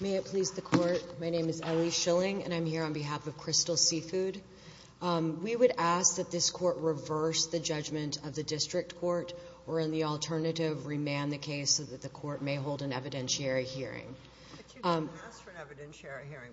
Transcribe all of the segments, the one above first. May it please the Court, my name is Ellie Schilling and I'm here on behalf of Crystal Seafood. We would ask that this Court reverse the judgment of the District Court or in the alternative, remand the case so that the Court may hold an evidentiary hearing. But you didn't ask for an evidentiary hearing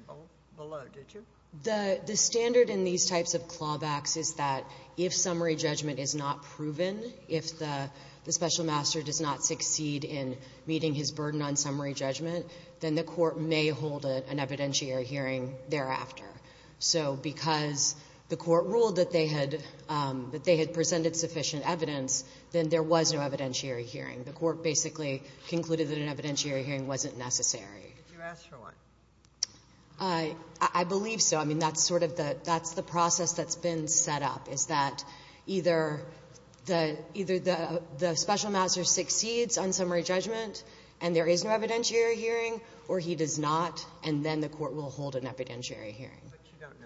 below, did you? The standard in these types of clawbacks is that if summary judgment is not proven, if the Special Master does not succeed in meeting his burden on summary judgment, then the Court may hold an evidentiary hearing thereafter. So because the Court ruled that they had presented sufficient evidence, then there was no evidentiary hearing. The Court basically concluded that an evidentiary hearing wasn't necessary. You asked for one. I believe so. I mean, that's sort of the process that's been set up, is that either the Special Master succeeds on summary judgment and there is no evidentiary hearing, or he does not, and then the Court will hold an evidentiary hearing. But you don't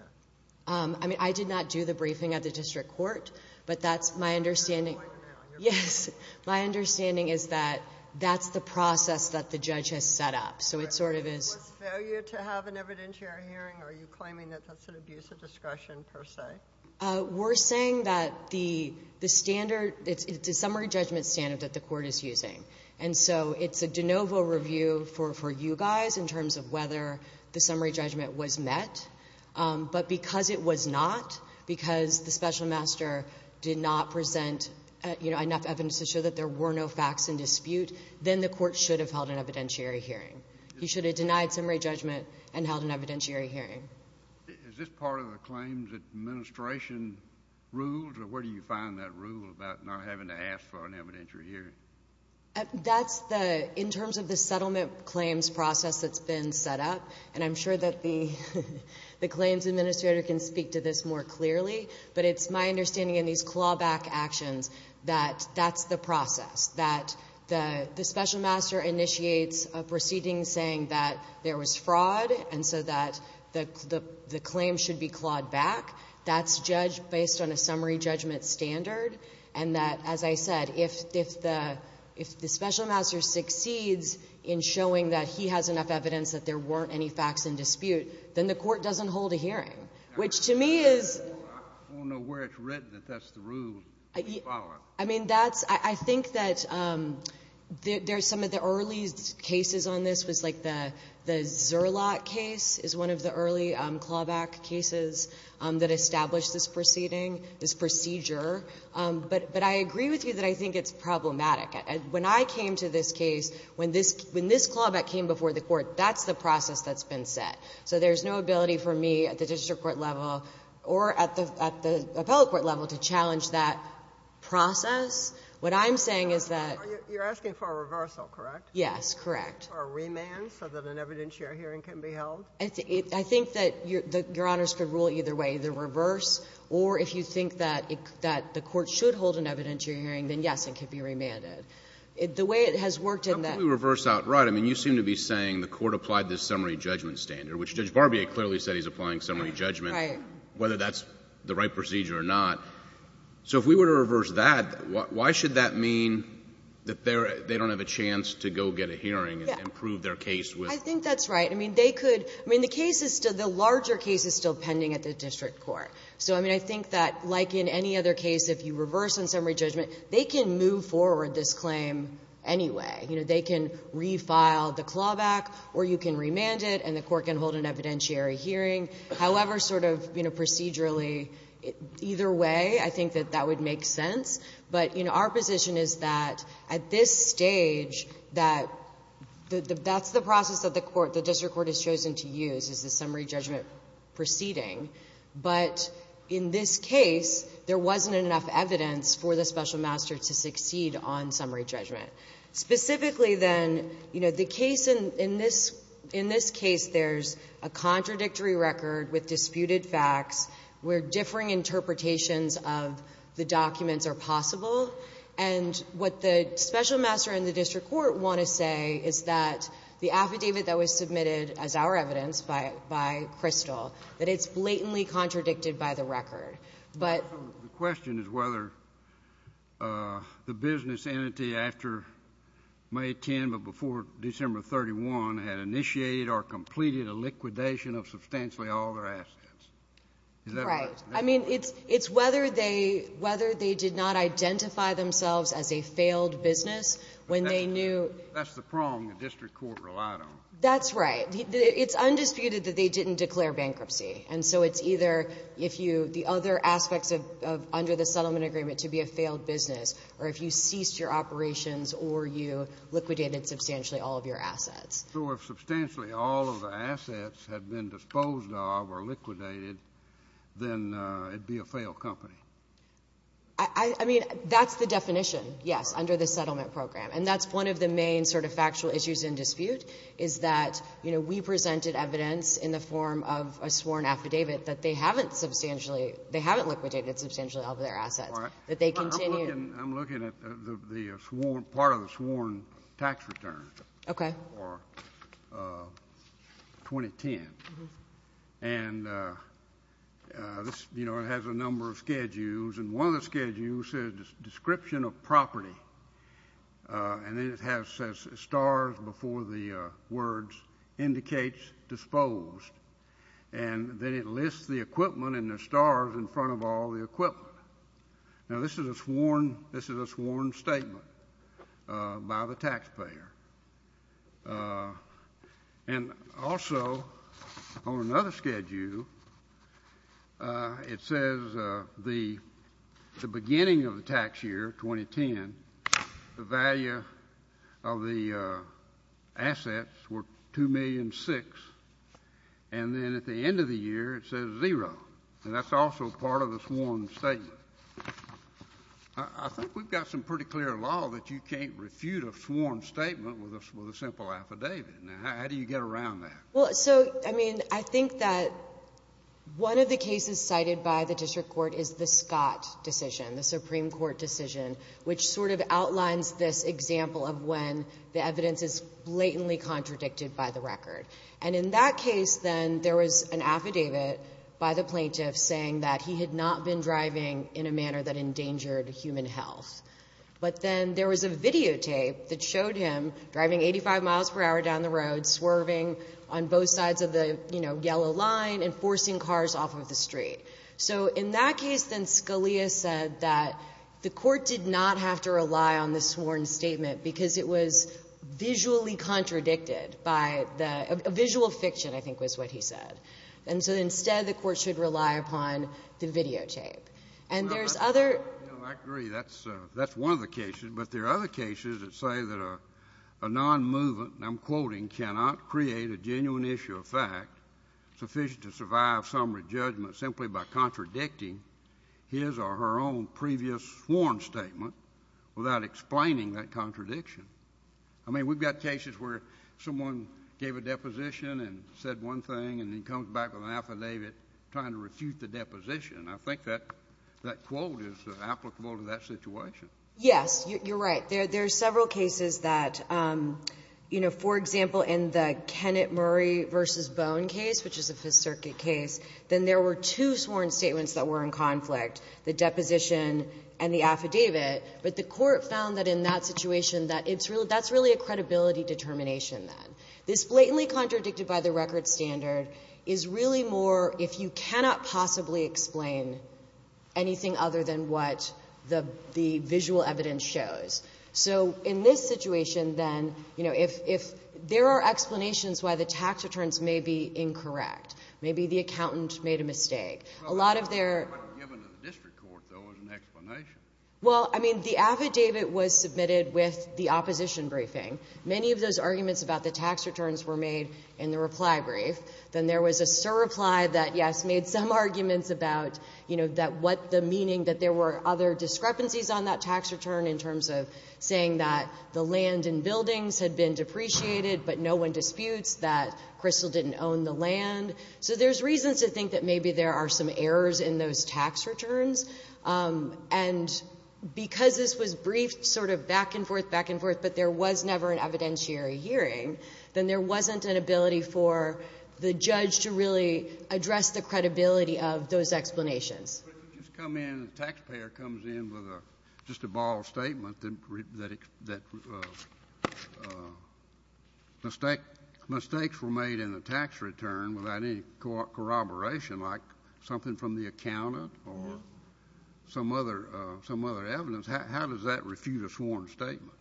know. I mean, I did not do the briefing at the District Court, but that's my understanding. You're doing it right now. Yes. My understanding is that that's the process that the judge has set up. So it sort of is. Was failure to have an evidentiary hearing, are you claiming that that's an abuse of discretion per se? We're saying that the standard, it's a summary judgment standard that the Court is using. And so it's a de novo review for you guys in terms of whether the summary judgment was met. But because it was not, because the Special Master did not present, you know, enough evidence to show that there were no facts in dispute, then the Court should have held an evidentiary hearing. He should have denied summary judgment and held an evidentiary hearing. Is this part of the claims administration rules, or where do you find that rule about not having to ask for an evidentiary hearing? That's the, in terms of the settlement claims process that's been set up, and I'm sure that the claims administrator can speak to this more clearly, but it's my understanding in these clawback actions that that's the process, that the Special Master initiates a proceeding saying that there was fraud, and so that the claims should be clawed back. That's judged based on a summary judgment standard, and that, as I said, if the Special Master succeeds in showing that he has enough evidence that there weren't any facts in dispute, then the Court doesn't hold a hearing, which to me is I don't know where it's written that that's the rule. I mean, that's, I think that there's some of the early cases on this was like the Zerlot case is one of the early clawback cases that established this proceeding, this procedure, but I agree with you that I think it's problematic. When I came to this case, when this clawback came before the Court, that's the process that's been set. So there's no ability for me at the district court level or at the appellate court level to challenge that process. What I'm saying is that you're asking for a reversal, correct? Yes, correct. Or a remand so that an evidentiary hearing can be held? I think that Your Honors could rule either way, the reverse, or if you think that the Court should hold an evidentiary hearing, then, yes, it could be remanded. The way it has worked in that ---- But if we reverse outright, I mean, you seem to be saying the Court applied this summary judgment standard, which Judge Barbier clearly said he's applying summary judgment, whether that's the right procedure or not. So if we were to reverse that, why should that mean that they don't have a chance to go get a hearing and prove their case with ---- I think that's right. I mean, they could ---- I mean, the case is still the larger case is still pending at the district court. So, I mean, I think that like in any other case, if you reverse in summary judgment, they can move forward this claim anyway. You know, they can refile the clawback or you can remand it and the Court can hold an evidentiary hearing. However, sort of procedurally, either way, I think that that would make sense. But, you know, our position is that at this stage that the ---- that's the process that the court, the district court has chosen to use is the summary judgment proceeding. But in this case, there wasn't enough evidence for the special master to succeed on summary judgment. Specifically then, you know, the case in this ---- in this case, there's a contradictory record with disputed facts where differing interpretations of the documents are possible. And what the special master and the district court want to say is that the affidavit that was submitted as our evidence by Crystal, that it's blatantly contradicted by the record. But ---- The question is whether the business entity after May 10 but before December 31 had initiated or completed a liquidation of substantially all their assets. Is that right? I mean, it's whether they did not identify themselves as a failed business when they knew ---- That's the prong the district court relied on. That's right. It's undisputed that they didn't declare bankruptcy. And so it's either if you ---- the other aspects of under the settlement agreement to be a failed business or if you ceased your operations or you liquidated substantially all of your assets. So if substantially all of the assets had been disposed of or liquidated, then it'd be a failed company. I mean, that's the definition, yes, under the settlement program. And that's one of the main sort of factual issues in dispute is that, you know, we presented evidence in the form of a sworn affidavit that they haven't substantially ---- they haven't liquidated substantially all of their assets. That they continue ---- I'm looking at the sworn ---- part of the sworn tax return. Okay. That was in April of 2010. And, you know, it has a number of schedules. And one of the schedules says description of property. And then it has stars before the words indicates disposed. And then it lists the equipment and the stars in front of all the equipment. Now, this is a sworn statement by the taxpayer. And also on another schedule it says the beginning of the tax year, 2010, the value of the assets were $2.6 million. And then at the end of the year it says zero. And that's also part of the sworn statement. I think we've got some pretty clear law that you can't refute a sworn statement with a simple affidavit. Now, how do you get around that? Well, so, I mean, I think that one of the cases cited by the district court is the Scott decision, the Supreme Court decision, which sort of outlines this example of when the evidence is blatantly contradicted by the record. And in that case, then, there was an affidavit by the plaintiff saying that he had not been driving in a manner that endangered human health. But then there was a videotape that showed him driving 85 miles per hour down the road, swerving on both sides of the, you know, yellow line, and forcing cars off of the street. So in that case then Scalia said that the court did not have to rely on the A visual fiction, I think, was what he said. And so instead, the court should rely upon the videotape. And there's other — Well, I agree. That's one of the cases. But there are other cases that say that a nonmovement, and I'm quoting, cannot create a genuine issue of fact sufficient to survive summary judgment simply by contradicting his or her own previous sworn statement without explaining that contradiction. I mean, we've got cases where someone gave a deposition and said one thing and then comes back with an affidavit trying to refute the deposition. I think that quote is applicable to that situation. Yes. You're right. There are several cases that, you know, for example, in the Kennett-Murray v. Bone case, which is a Fifth Circuit case, then there were two sworn statements that were in conflict, the deposition and the affidavit. But the court found that in that situation that it's really — that's really a credibility determination then. This blatantly contradicted-by-the-record standard is really more if you cannot possibly explain anything other than what the visual evidence shows. So in this situation, then, you know, if there are explanations why the tax returns may be incorrect, maybe the accountant made a mistake, a lot of their — Well, it wasn't given to the district court, though, as an explanation. Well, I mean, the affidavit was submitted with the opposition briefing. Many of those arguments about the tax returns were made in the reply brief. Then there was a sur-reply that, yes, made some arguments about, you know, that what the meaning that there were other discrepancies on that tax return in terms of saying that the land and buildings had been depreciated but no one disputes that Crystal didn't own the land. So there's reasons to think that maybe there are some errors in those tax returns. And because this was briefed sort of back and forth, back and forth, but there was never an evidentiary hearing, then there wasn't an ability for the judge to really address the credibility of those explanations. But if you just come in and the taxpayer comes in with just a borrowed statement that mistakes were made in the tax return without any corroboration, like something from the accountant or some other evidence, how does that refute a sworn statement?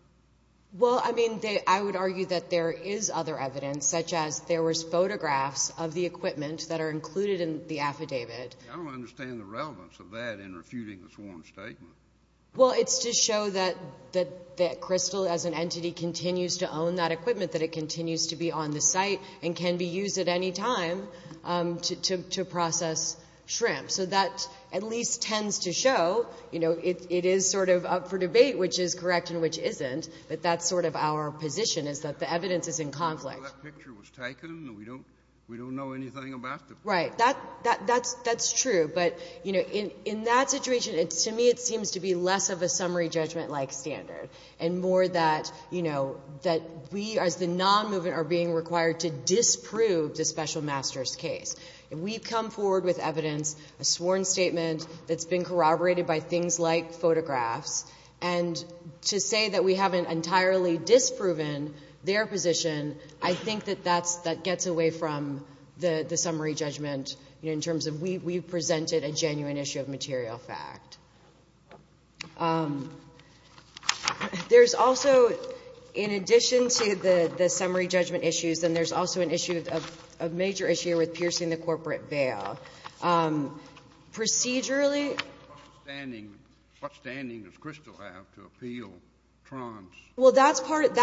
Well, I mean, I would argue that there is other evidence, such as there was photographs of the equipment that are included in the affidavit. I don't understand the relevance of that in refuting the sworn statement. Well, it's to show that Crystal, as an entity, continues to own that equipment, that it continues to be on the site and can be used at any time to process shrimp. So that at least tends to show, you know, it is sort of up for debate which is correct and which isn't, but that's sort of our position is that the evidence is in conflict. Well, that picture was taken and we don't know anything about the picture. Right. That's true. But, you know, in that situation, to me it seems to be less of a summary judgment-like standard and more that, you know, that we as the non-movement are being required to disprove the special master's case. If we come forward with evidence, a sworn statement that's been corroborated by things like photographs, and to say that we haven't entirely disproven their position, I think that that gets away from the summary judgment, you know, in terms of we've presented a genuine issue of material fact. There's also, in addition to the summary judgment issues, then there's also an issue, a major issue with piercing the corporate veil. Procedurally. What standing does Crystal have to appeal Tron's? Well, that's part of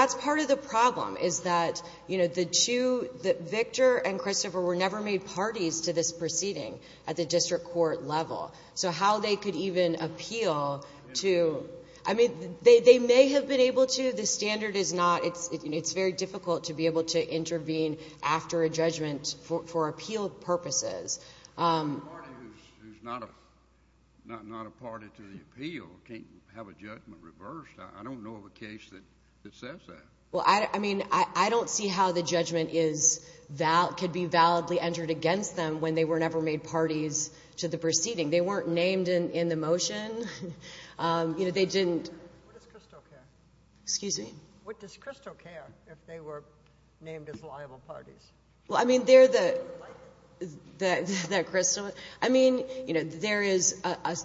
the problem is that, you know, the two, that Victor and Christopher were never made parties to this proceeding at the district court level. So how they could even appeal to, I mean, they may have been able to. The standard is not. It's very difficult to be able to intervene after a judgment for appeal purposes. A party who's not a party to the appeal can't have a judgment reversed. I don't know of a case that says that. Well, I mean, I don't see how the judgment could be validly entered against them when they were never made parties to the proceeding. They weren't named in the motion. You know, they didn't. What does Crystal care? Excuse me? What does Crystal care if they were named as liable parties? Well, I mean, they're the Crystal. I mean, you know, there is,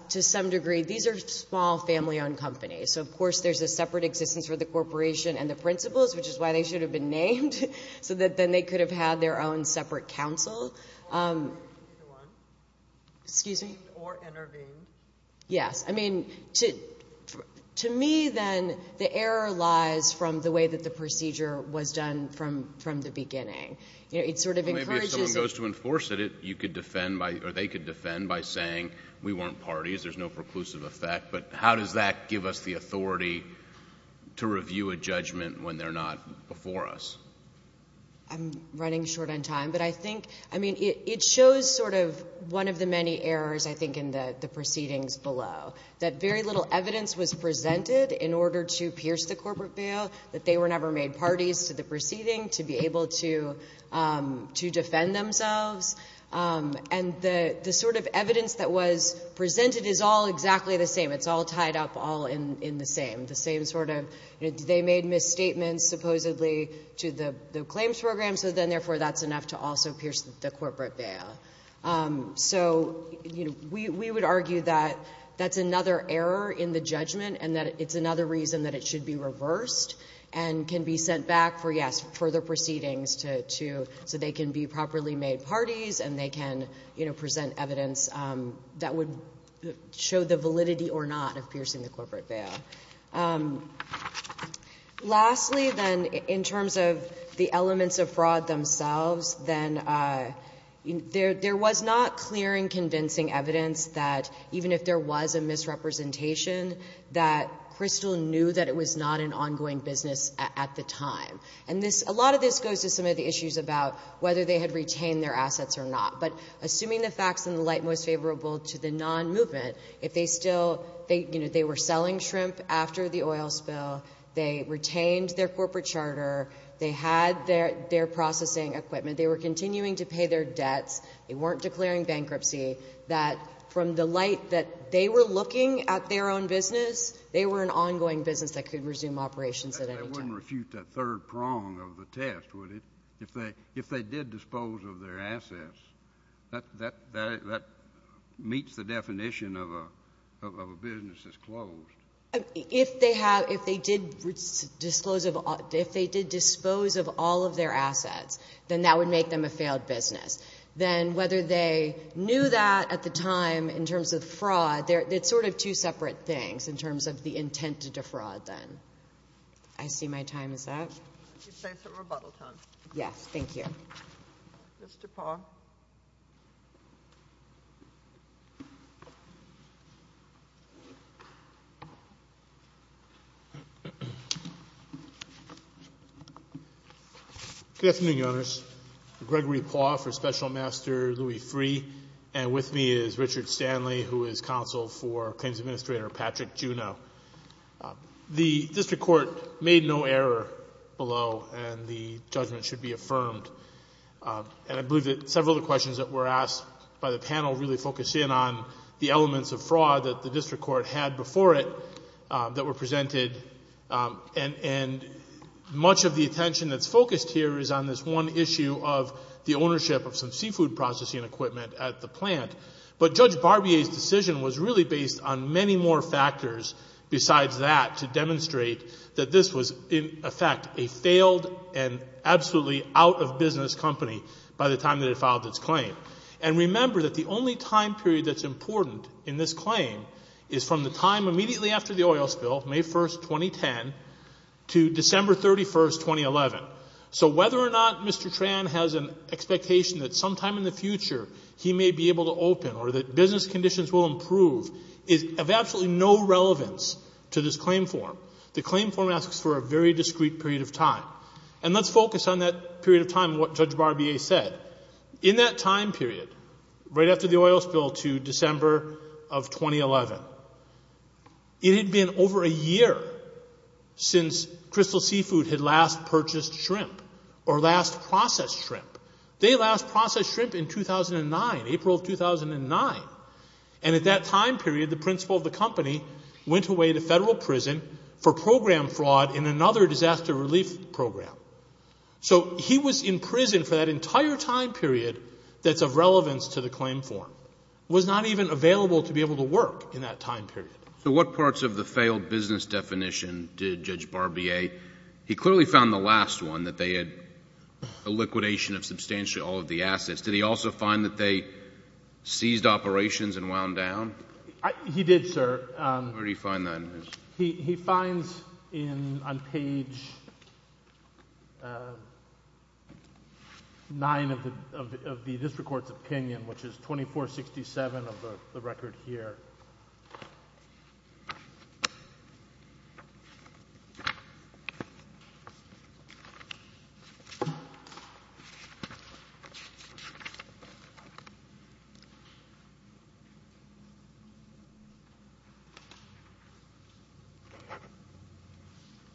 to some degree, these are small family-owned companies. So, of course, there's a separate existence for the corporation and the principals, which is why they should have been named, so that then they could have had their own separate counsel. Excuse me? Or intervene. Yes. I mean, to me, then, the error lies from the way that the procedure was done from the beginning. You know, it sort of encourages. Well, maybe if someone goes to enforce it, you could defend by, or they could defend by saying we weren't parties, there's no preclusive effect, but how does that give us the authority to review a judgment when they're not before us? I'm running short on time, but I think, I mean, it shows sort of one of the many errors, I think, in the proceedings below, that very little evidence was presented in order to pierce the corporate veil, that they were never made parties to the proceeding to be able to defend themselves. And the sort of evidence that was presented is all exactly the same. It's all tied up, all in the same. The same sort of, you know, they made misstatements, supposedly, to the claims program, so then, therefore, that's enough to also pierce the corporate veil. So, you know, we would argue that that's another error in the judgment and that it's another reason that it should be reversed and can be sent back for, yes, further proceedings to, so they can be properly made parties and they can, you know, present evidence that would show the validity or not of piercing the corporate veil. Lastly, then, in terms of the elements of fraud themselves, then there was not clear and convincing evidence that, even if there was a misrepresentation, that Crystal knew that it was not an ongoing business at the time. And this, a lot of this goes to some of the issues about whether they had retained their assets or not. But assuming the facts in the light most favorable to the non-movement, if they still they, you know, they were selling shrimp after the oil spill, they retained their corporate charter, they had their processing equipment, they were continuing to pay their debts, they weren't declaring bankruptcy, that from the light that they were looking at their own business, they were an ongoing business that could resume operations at any time. But you wouldn't refute that third prong of the test, would you? If they did dispose of their assets, that meets the definition of a business that's closed. If they have, if they did dispose of all of their assets, then that would make them a failed business. Then whether they knew that at the time in terms of fraud, it's sort of two separate things in terms of the intent to defraud, then. I see my time is up. Yes, thank you. Mr. Pauw. Good afternoon, Your Honors. Gregory Pauw for Special Master Louis Free. And with me is Richard Stanley, who is Counsel for Claims Administrator Patrick Juneau. The District Court made no error below, and the judgment should be affirmed. And I believe that several of the questions that were asked by the panel really focused in on the elements of fraud that the District Court had before it that were presented. And much of the attention that's focused here is on this one issue of the ownership of some seafood processing equipment at the plant. But Judge Barbier's decision was really based on many more factors besides that to demonstrate that this was, in effect, a failed and absolutely out of business company by the time that it filed its claim. And remember that the only time period that's important in this claim is from the time immediately after the oil spill, May 1, 2010, to December 31, 2011. So whether or not Mr. Tran has an expectation that sometime in the future he may be able to open or that business conditions will improve is of absolutely no relevance to this claim form. The claim form asks for a very discrete period of time. And let's focus on that period of time, what Judge Barbier said. In that time period, right after the oil spill to December of 2011, it had been over a year since Crystal Seafood had last purchased shrimp or last processed shrimp. They last processed shrimp in 2009, April of 2009. And at that time period, the principal of the company went away to federal prison for program fraud in another disaster relief program. So he was in prison for that entire time period that's of relevance to the claim form, was not even available to be able to work in that time period. So what parts of the failed business definition did Judge Barbier, he clearly found the last one that they had a liquidation of substantially all of the assets. Did he also find that they seized operations and wound down? He did, sir. Where did he find that? He finds on page 9 of the district court's opinion, which is 2467 of the record here.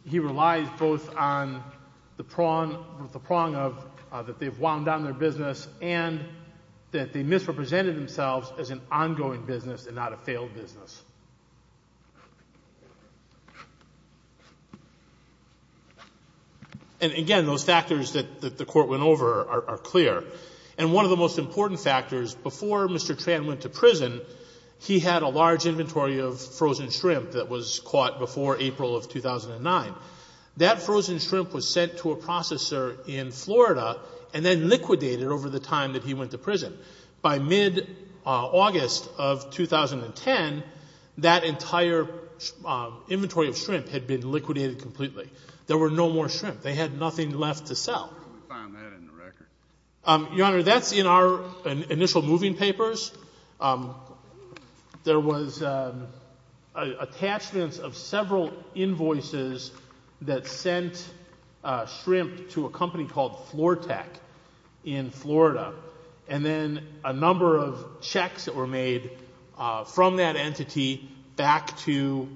He relies both on the prong of that they've wound down their business and that they misrepresented themselves as an ongoing business and not a failed business. And again, those factors that the court went over are clear. And one of the most important factors, before Mr. Tran went to prison, he had a large inventory of frozen shrimp that was caught before April of 2009. That frozen shrimp was sent to a processor in Florida and then liquidated over the time that he went to prison. By mid-August of 2010, that entire inventory of shrimp had been liquidated completely. There were no more shrimp. They had nothing left to sell. How did he find that in the record? Your Honor, that's in our initial moving papers. There was attachments of several invoices that sent shrimp to a company called FlorTech in Florida and then a number of checks that were made from that entity back to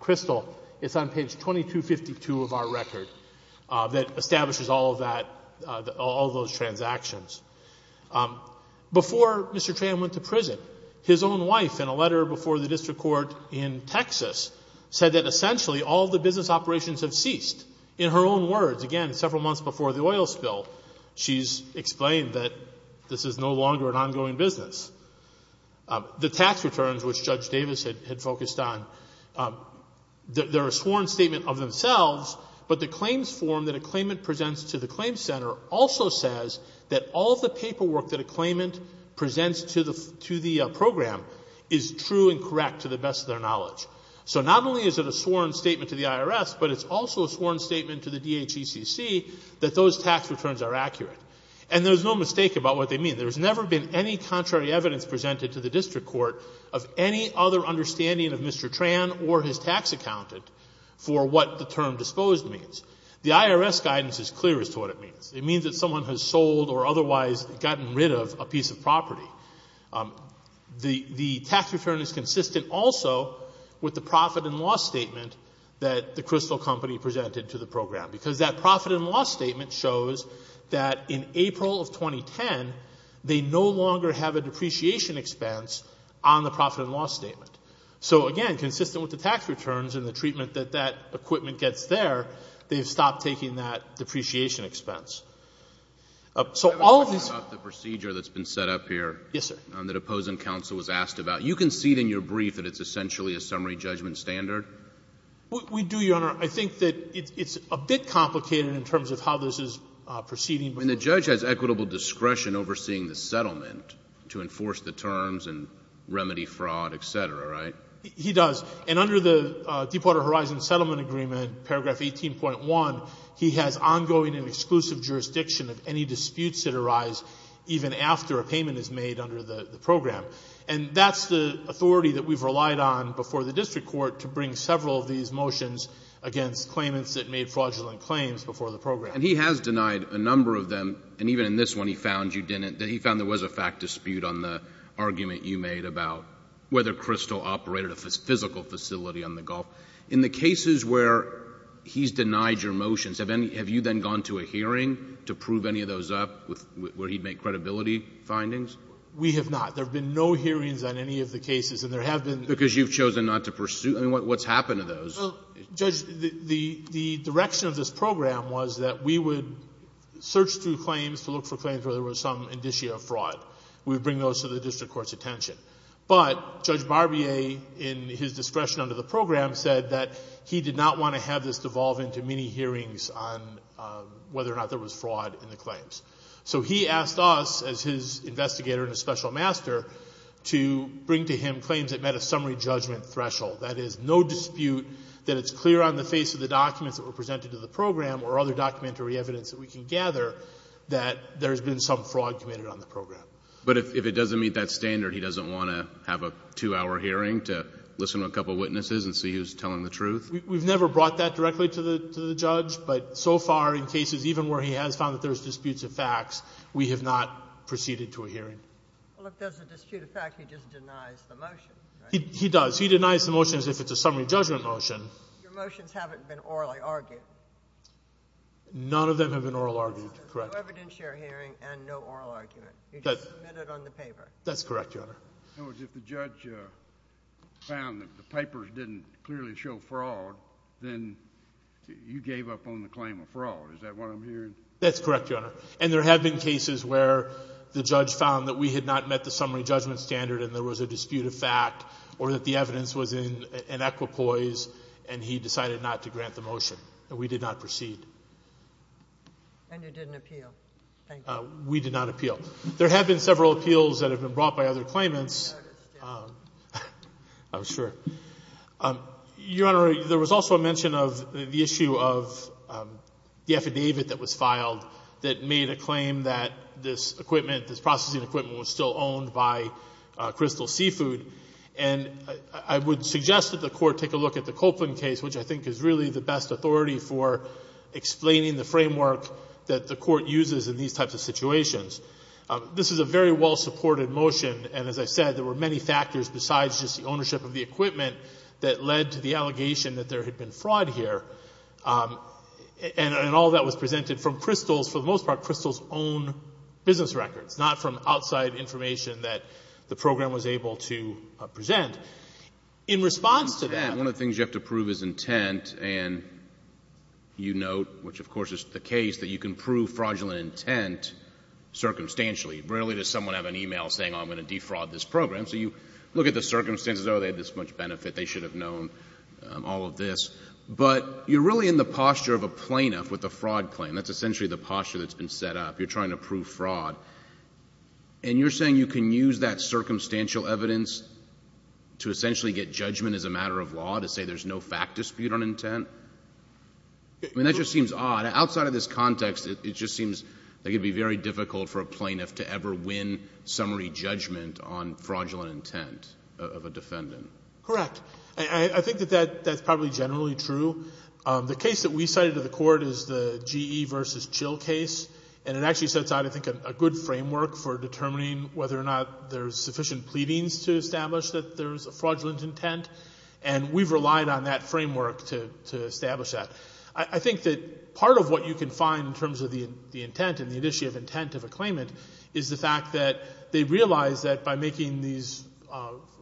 Crystal. It's on page 2252 of our record that establishes all of that, all those transactions. Before Mr. Tran went to prison, his own wife, in a letter before the district court in Texas, said that essentially all the business operations have ceased. In her own words, again, several months before the oil spill, she's explained that this is no longer an ongoing business. The tax returns, which Judge Davis had focused on, they're a sworn statement of themselves, but the claims form that a claimant presents to the claim center also says that all of the paperwork that a claimant presents to the program is true and correct to the best of their knowledge. So not only is it a sworn statement to the IRS, but it's also a sworn statement to the DHECC that those tax returns are accurate. And there's no mistake about what they mean. There's never been any contrary evidence presented to the district court of any other understanding of Mr. Tran or his tax accountant for what the term disposed means. The IRS guidance is clear as to what it means. It means that someone has sold or otherwise gotten rid of a piece of property. The tax return is consistent also with the profit and loss statement that the Crystal Company presented to the program, because that profit and loss statement shows that in April of 2010, they no longer have a depreciation expense on the profit and loss statement. So again, consistent with the tax returns and the treatment that that equipment gets there, they've stopped taking that depreciation expense. So all of this — I have a question about the procedure that's been set up here — Yes, sir. — that opposing counsel was asked about. You concede in your brief that it's essentially a summary judgment standard? We do, Your Honor. I think that it's a bit complicated in terms of how this is proceeding. I mean, the judge has equitable discretion overseeing the settlement to enforce the terms and remedy fraud, et cetera, right? He does. And under the Deepwater Horizon Settlement Agreement, paragraph 18.1, he has ongoing and exclusive jurisdiction of any disputes that arise even after a payment is made under the program. And that's the authority that we've relied on before the district court to bring several of these motions against claimants that made fraudulent claims before the program. And he has denied a number of them, and even in this one he found you didn't. He found there was a fact dispute on the argument you made about whether Crystal operated a physical facility on the Gulf. In the cases where he's denied your motions, have you then gone to a hearing to prove any of those up where he'd make credibility findings? We have not. There have been no hearings on any of the cases, and there have been — Because you've chosen not to pursue? I mean, what's happened to those? Well, Judge, the direction of this program was that we would search through claims to look for claims where there was some indicia of fraud. We would bring those to the district court's attention. But Judge Barbier, in his discretion under the program, said that he did not want to have this devolve into many hearings on whether or not there was fraud in the claims. So he asked us, as his investigator and a special master, to bring to him claims that met a summary judgment threshold. That is, no dispute that it's clear on the face of the documents that were presented to the program or other documentary evidence that we can gather that there's been some fraud committed on the program. But if it doesn't meet that standard, he doesn't want to have a two-hour hearing to listen to a couple witnesses and see who's telling the truth? We've never brought that directly to the judge, but so far in cases even where he has found that there's disputes of facts, we have not proceeded to a hearing. Well, if there's a dispute of facts, he just denies the motion, right? He does. He denies the motion as if it's a summary judgment motion. Your motions haven't been orally argued. None of them have been orally argued, correct. No evidentiary hearing and no oral argument. You just submitted on the paper. That's correct, Your Honor. In other words, if the judge found that the papers didn't clearly show fraud, then you gave up on the claim of fraud. Is that what I'm hearing? That's correct, Your Honor. And there have been cases where the judge found that we had not met the summary judgment standard or that the evidence was in equipoise and he decided not to grant the motion. We did not proceed. And you didn't appeal. We did not appeal. There have been several appeals that have been brought by other claimants. I noticed. I'm sure. Your Honor, there was also a mention of the issue of the affidavit that was filed that made a claim that this equipment, this processing equipment, was still owned by Crystal Seafood. And I would suggest that the Court take a look at the Copeland case, which I think is really the best authority for explaining the framework that the Court uses in these types of situations. This is a very well-supported motion. And as I said, there were many factors besides just the ownership of the equipment that led to the allegation that there had been fraud here. And all that was presented from Crystal's, for the most part, Crystal's own business records, not from outside information that the program was able to present. In response to that… One of the things you have to prove is intent. And you note, which of course is the case, that you can prove fraudulent intent circumstantially. Rarely does someone have an email saying, oh, I'm going to defraud this program. So you look at the circumstances, oh, they had this much benefit. They should have known all of this. But you're really in the posture of a plaintiff with a fraud claim. That's essentially the posture that's been set up. You're trying to prove fraud. And you're saying you can use that circumstantial evidence to essentially get judgment as a matter of law to say there's no fact dispute on intent? I mean, that just seems odd. Outside of this context, it just seems like it would be very difficult for a plaintiff to ever win summary judgment on fraudulent intent of a defendant. Correct. I think that that's probably generally true. The case that we cited to the court is the GE v. Chill case. And it actually sets out, I think, a good framework for determining whether or not there's sufficient pleadings to establish that there's a fraudulent intent. And we've relied on that framework to establish that. I think that part of what you can find in terms of the intent and the initiative intent of a claimant is the fact that they realize that by making these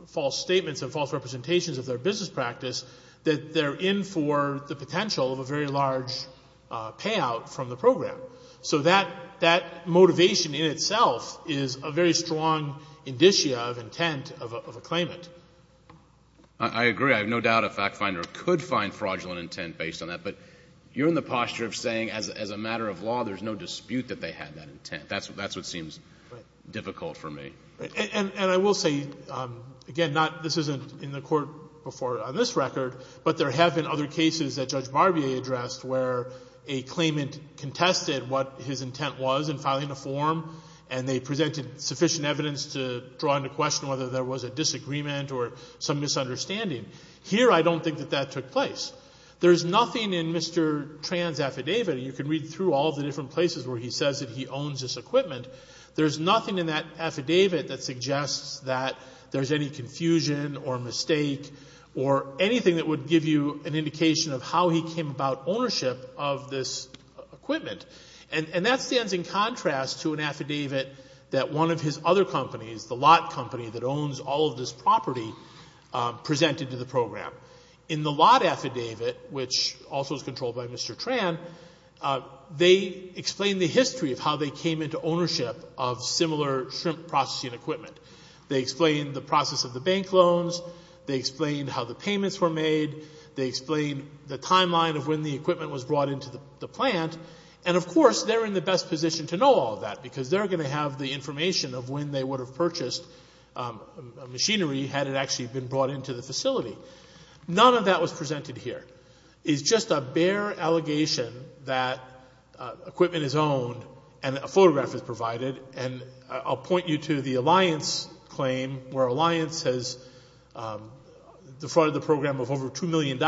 false statements and false representations of their business practice that they're in for the potential of a very large payout from the program. So that motivation in itself is a very strong indicia of intent of a claimant. I agree. I have no doubt a fact finder could find fraudulent intent based on that. But you're in the posture of saying as a matter of law, there's no dispute that they had that intent. That's what seems difficult for me. And I will say, again, this isn't in the court before on this record, but there have been other cases that Judge Barbier addressed where a claimant contested what his intent was in filing a form, and presented sufficient evidence to draw into question whether there was a disagreement or some misunderstanding. Here, I don't think that that took place. There's nothing in Mr. Tran's affidavit, and you can read through all the different places where he says that he owns this equipment, there's nothing in that affidavit that suggests that there's any confusion or mistake or anything that would give you an indication of how he came about ownership of this equipment. And that stands in contrast to an affidavit that one of his other companies, the lot company that owns all of this property, presented to the program. In the lot affidavit, which also is controlled by Mr. Tran, they explain the history of how they came into ownership of similar shrimp processing equipment. They explain the process of the bank loans. They explain how the payments were made. They explain the timeline of when the equipment was brought into the plant. And, of course, they're in the best position to know all that because they're going to have the information of when they would have purchased machinery had it actually been brought into the facility. None of that was presented here. It's just a bare allegation that equipment is owned and a photograph is provided. And I'll point you to the Alliance claim where Alliance has defrauded the program of over $2 million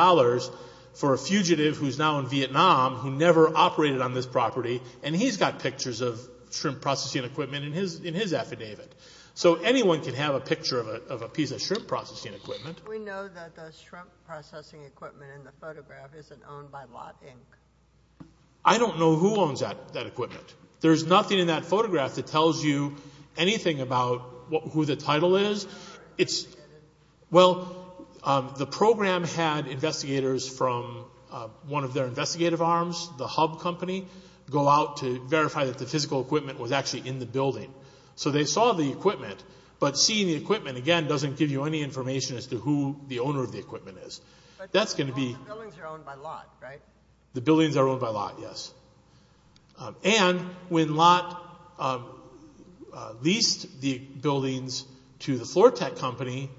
for a fugitive who's now in Vietnam who never operated on this property, and he's got pictures of shrimp processing equipment in his affidavit. So anyone can have a picture of a piece of shrimp processing equipment. We know that the shrimp processing equipment in the photograph isn't owned by Lot Inc. I don't know who owns that equipment. There's nothing in that photograph that tells you anything about who the title is. It's... Well, the program had investigators from one of their investigative arms, the hub company, go out to verify that the physical equipment was actually in the building. So they saw the equipment, but seeing the equipment, again, doesn't give you any information as to who the owner of the equipment is. That's going to be... The buildings are owned by Lot, right? The buildings are owned by Lot, yes. And when Lot leased the buildings to the Floortec company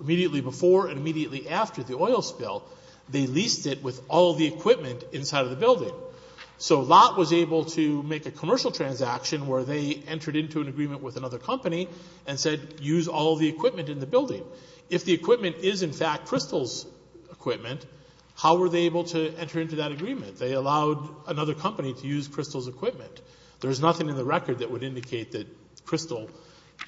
immediately before and immediately after the oil spill, they leased it with all the equipment inside the building. So Lot was able to make a commercial transaction where they entered into an agreement with another company and said, use all the equipment in the building. If the equipment is, in fact, Crystal's equipment, how were they able to enter into that agreement? They allowed another company to use Crystal's equipment. There's nothing in the record that would indicate that Crystal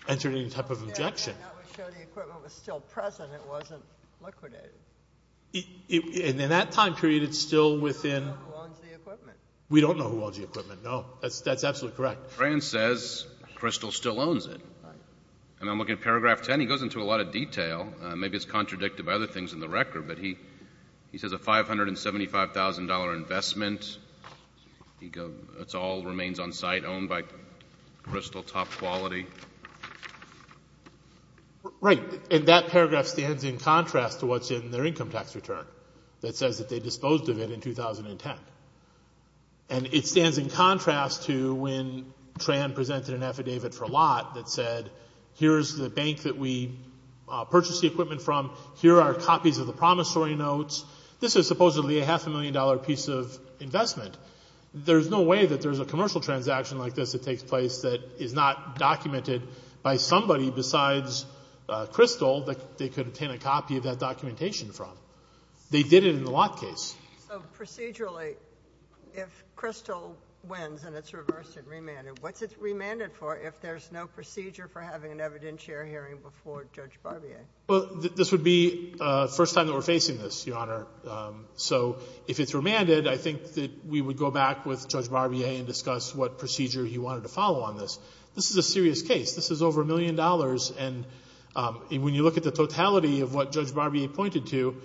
entered any type of objection. That would show the equipment was still present. It wasn't liquidated. In that time period, who owns the equipment? We don't know who owns the equipment, no. That's absolutely correct. Grant says Crystal still owns it. And I'm looking at paragraph 10. He goes into a lot of detail. Maybe it's contradicted by other things in the record, but he says a $575,000 investment, it all remains on site, owned by Crystal, top quality. Right. And that paragraph stands in contrast to what's in their income tax return that says that they disposed of it in 2010. And it stands in contrast to when Tran presented an affidavit for a lot that said here's the bank that we purchased the equipment from. Here are copies of the promissory notes. This is supposedly a half a million dollar piece of investment. There's no way that there's a commercial transaction like this that takes place that is not documented by somebody besides Crystal that they could obtain a copy of that documentation from. They did it in the lot case. So procedurally, if Crystal wins and it's reversed and remanded, what's it remanded for if there's no procedure for having an evidentiary hearing before Judge Barbier? Well, this would be the first time that we're facing this, Your Honor. So if it's remanded, I think that we would go back with Judge Barbier and discuss what procedure he wanted to follow on this. This is a serious case. This is over a million dollars. And when you look at the totality of what Judge Barbier pointed to,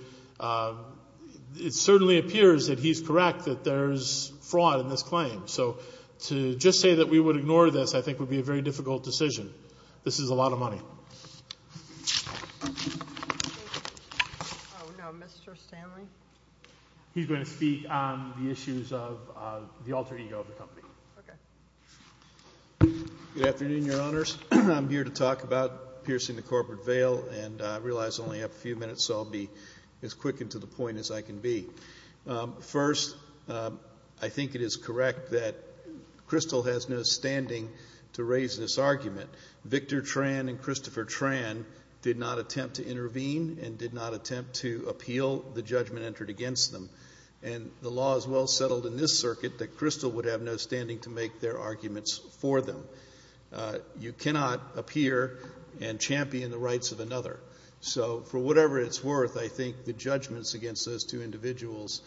it certainly appears that he's correct that there's fraud in this claim. So to just say that we would ignore this I think would be a very difficult decision. This is a lot of money. Thank you. Oh, no. Mr. Stanley? He's going to speak on the issues of the alter ego of the company. Okay. Good afternoon, Your Honors. I'm here to talk about piercing the corporate veil and I realize I only have a few minutes so I'll be as quick and to the point as I can be. First, I think it is correct that Crystal has no standing to raise this argument. Victor Tran and Christopher Tran did not attempt to intervene and did not attempt to appeal the judgment entered against them. And the law is well settled in this circuit that Crystal would have no standing to make their arguments for them. You cannot appear and champion the rights of another. So for whatever its worth, I think the judgments against those two individuals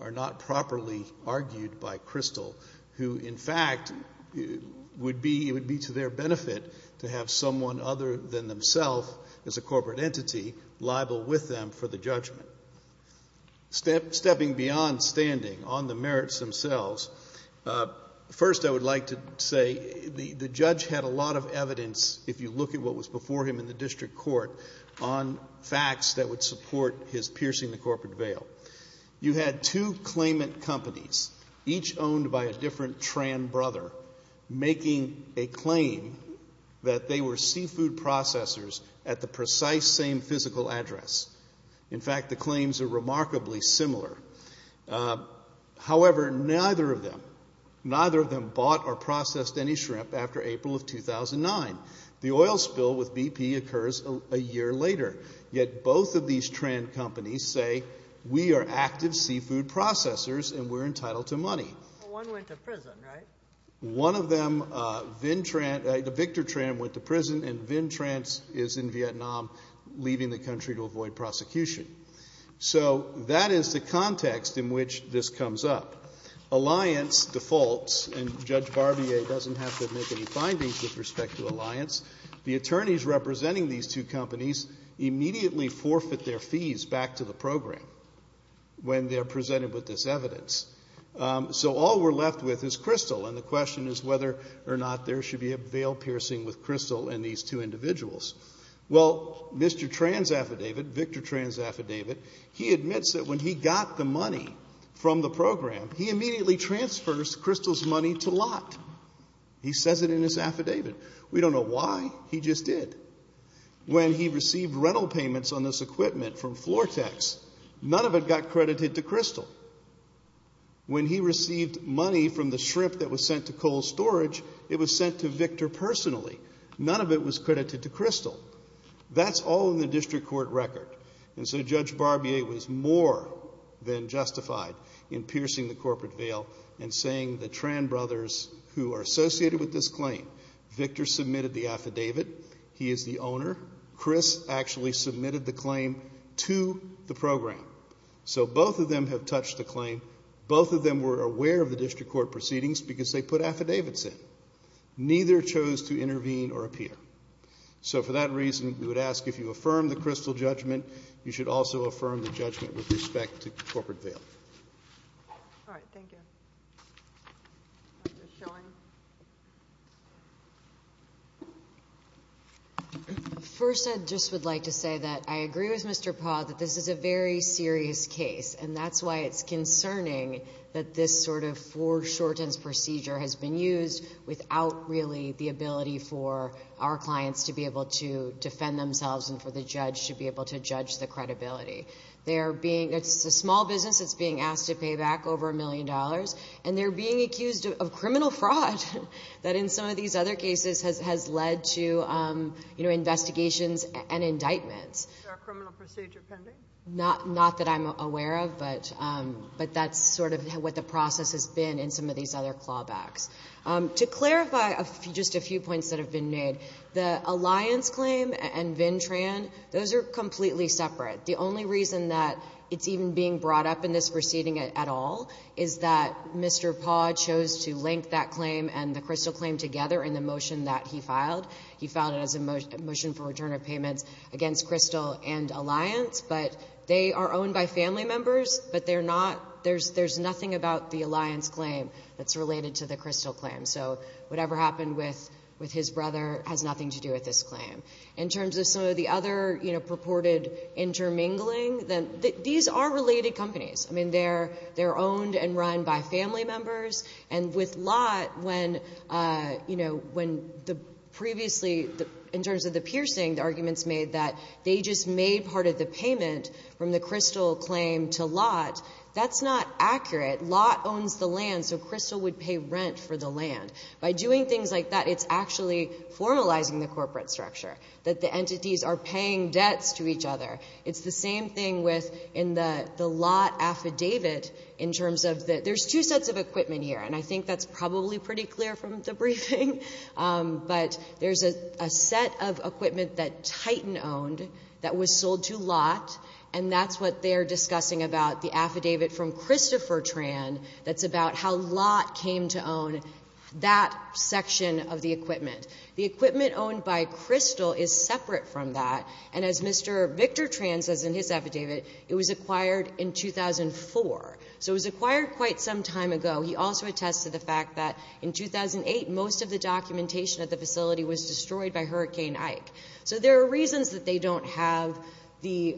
are not properly argued by Crystal who, in fact, would be to their benefit to have someone other than themselves as a corporate entity libel with them for the judgment. Stepping beyond standing on the merits themselves, first I would like to say the judge had a lot of evidence if you look at what was before him in the district court on facts that would support his piercing the corporate veil. You had two claimant companies, each owned by a different Tran brother, making a claim that they were seafood processors at the precise same physical address. In fact, the claims are remarkably similar. However, neither of them, neither of them bought or processed any shrimp after April of 2009. The oil spill with BP occurs a year later. Yet both of these Tran companies say, we are active seafood processors and we're entitled to money. One went to prison, right? One of them, Victor Tran went to prison and Vin Tran is in Vietnam leaving the country to avoid prosecution. So that is the context in which this comes up. Alliance defaults and Judge Barbier doesn't have to make any findings with respect to Alliance. The attorneys representing these two companies immediately forfeit their fees back to the program when they're presented with this evidence. So all we're left with is Crystal and the question is whether or not there should be a veil piercing with Crystal and these two individuals. Well, Mr. Tran's affidavit, Victor Tran's affidavit, he admits that when he got the money from the program, he immediately transfers Crystal's money to Lott. He says it in his affidavit. Why? He just did. When he received rental payments on this equipment from Flortex, none of it got credited to Crystal. When he received money from the shrimp that was sent to coal storage, it was sent to Victor personally. None of it was credited to Crystal. That's all in the district court record and so Judge Barbier was more than justified in piercing the corporate veil and saying the Tran brothers who are associated with this claim, this affidavit, he is the owner. Chris actually submitted the claim to the program. So both of them have touched the claim. Both of them were aware of the district court proceedings because they put affidavits in. Neither chose to intervene or appear. So for that reason, we would ask if you affirm the Crystal judgment, you should also affirm the judgment with respect to corporate veil. All right. Thank you. Ms. Schoen. First, I just would like to say that I agree with Mr. Paul that this is a very serious case and that's why it's concerning that this sort of foreshortens procedure has been used without really the ability for our clients to be able to defend themselves and for the judge to be able to judge the credibility. It's a small business. It's being asked to pay back over a million dollars and they're being accused of criminal fraud that in some of these other cases has led to, you know, investigations and indictments. Is there a criminal procedure pending? Not that I'm aware of, but that's sort of what the process has been in some of these other clawbacks. To clarify just a few points that have been made, the Alliance claim and Vintran, those are completely separate. The only reason that it's even being brought up in this proceeding at all is that Mr. Paul chose to link that claim and the Crystal claim together in the motion that he filed. He filed it as a motion for return of payments against Crystal and Alliance, but they are owned by family members, but they're not, there's nothing about the Alliance claim that's related to the Crystal claim. So whatever happened with his brother has nothing to do with this claim. In terms of some of the other, you know, purported intermingling, these are related companies. I mean, they're owned and run by family members, and with Lott, when the previously, in terms of the piercing, the arguments made that they just made part of the payment from the Crystal claim to Lott, that's not accurate. Lott owns the land, so Crystal would pay rent for the land. By doing things like that, it's actually formalizing the corporate structure, that the entities are paying debts to each other. So what we're dealing with in the Lott affidavit, in terms of the, there's two sets of equipment here, and I think that's probably pretty clear from the briefing, but there's a set of equipment that Titan owned that was sold to Lott, and that's what they're discussing about the affidavit from Christopher Tran that's about how Lott came to own that section of the equipment. The equipment owned by Crystal is separate from that, the Lott affidavit. It was acquired in 2004. So it was acquired quite some time ago. He also attests to the fact that in 2008, most of the documentation at the facility was destroyed by Hurricane Ike. So there are reasons that they don't have the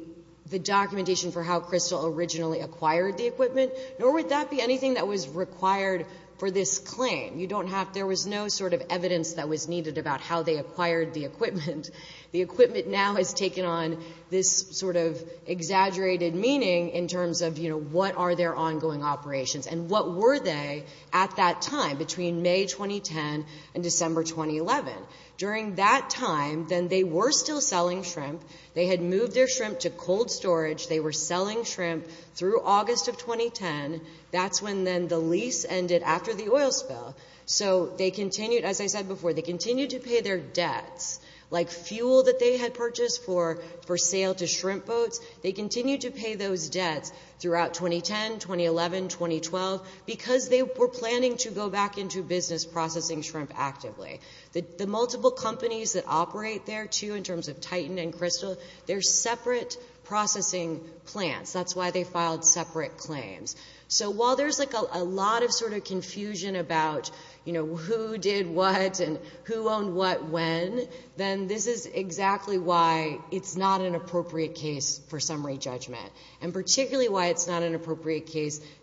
documentation for how Crystal originally acquired the equipment, nor would that be anything that was required for this claim. You don't have, there was no sort of evidence that was needed about how they acquired the equipment. The equipment now has taken on an exaggerated meaning in terms of what are their ongoing operations, and what were they at that time, between May 2010 and December 2011? During that time, then they were still selling shrimp. They had moved their shrimp to cold storage. They were selling shrimp through August of 2010. That's when then the lease ended after the oil spill. So they continued, as I said before, they continued to pay their debts, like fuel that they had purchased for sale to shrimp boats. They continued to pay those debts throughout 2010, 2011, 2012, because they were planning to go back into business processing shrimp actively. The multiple companies that operate there, too, in terms of Titan and Crystal, they're separate processing plants. That's why they filed separate claims. So while there's like a lot of sort of confusion about, you know, who did what, and who owned what when, then this is exactly why it's not an appropriate case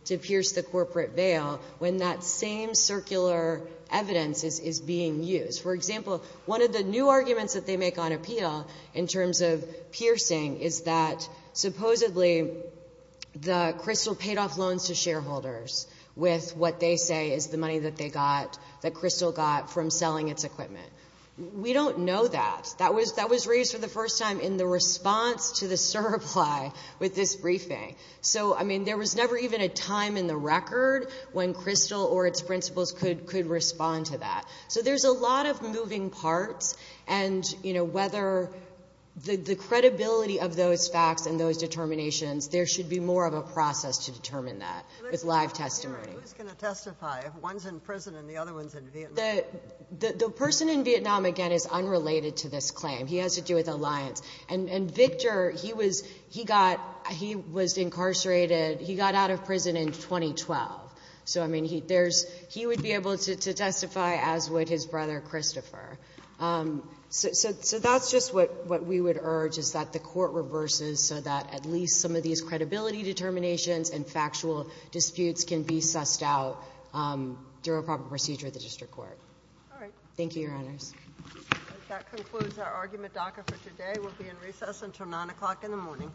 to pierce the corporate veil when that same circular evidence is being used. For example, one of the new arguments that they make on appeal in terms of piercing is that supposedly the Crystal paid off loans to shareholders with what they say is the money that they got, that Crystal got, from selling its equipment. We don't know that. That was raised for the first time in the response to the surply with this briefing. So, I mean, there was never even a time in the record when Crystal or its principals could respond to that. So there's a lot of moving parts, and, you know, whether the credibility of those facts and those determinations, there should be more of a process to determine that with live testimony. Who's going to testify if one's in prison and the other one's in Vietnam? The person in Vietnam, again, is unrelated to this claim. He has to do with alliance. And Victor, he was incarcerated. He got out of prison in 2012. So, I mean, he would be able to testify as would his brother, Christopher. So that's just what we would urge is that the court reverses so that at least some of these credibility determinations and factual disputes can be sussed out during a proper procedure for the district court. Thank you, Your Honors. That concludes our argument docket for today. We'll be in recess until 9 o'clock in the morning.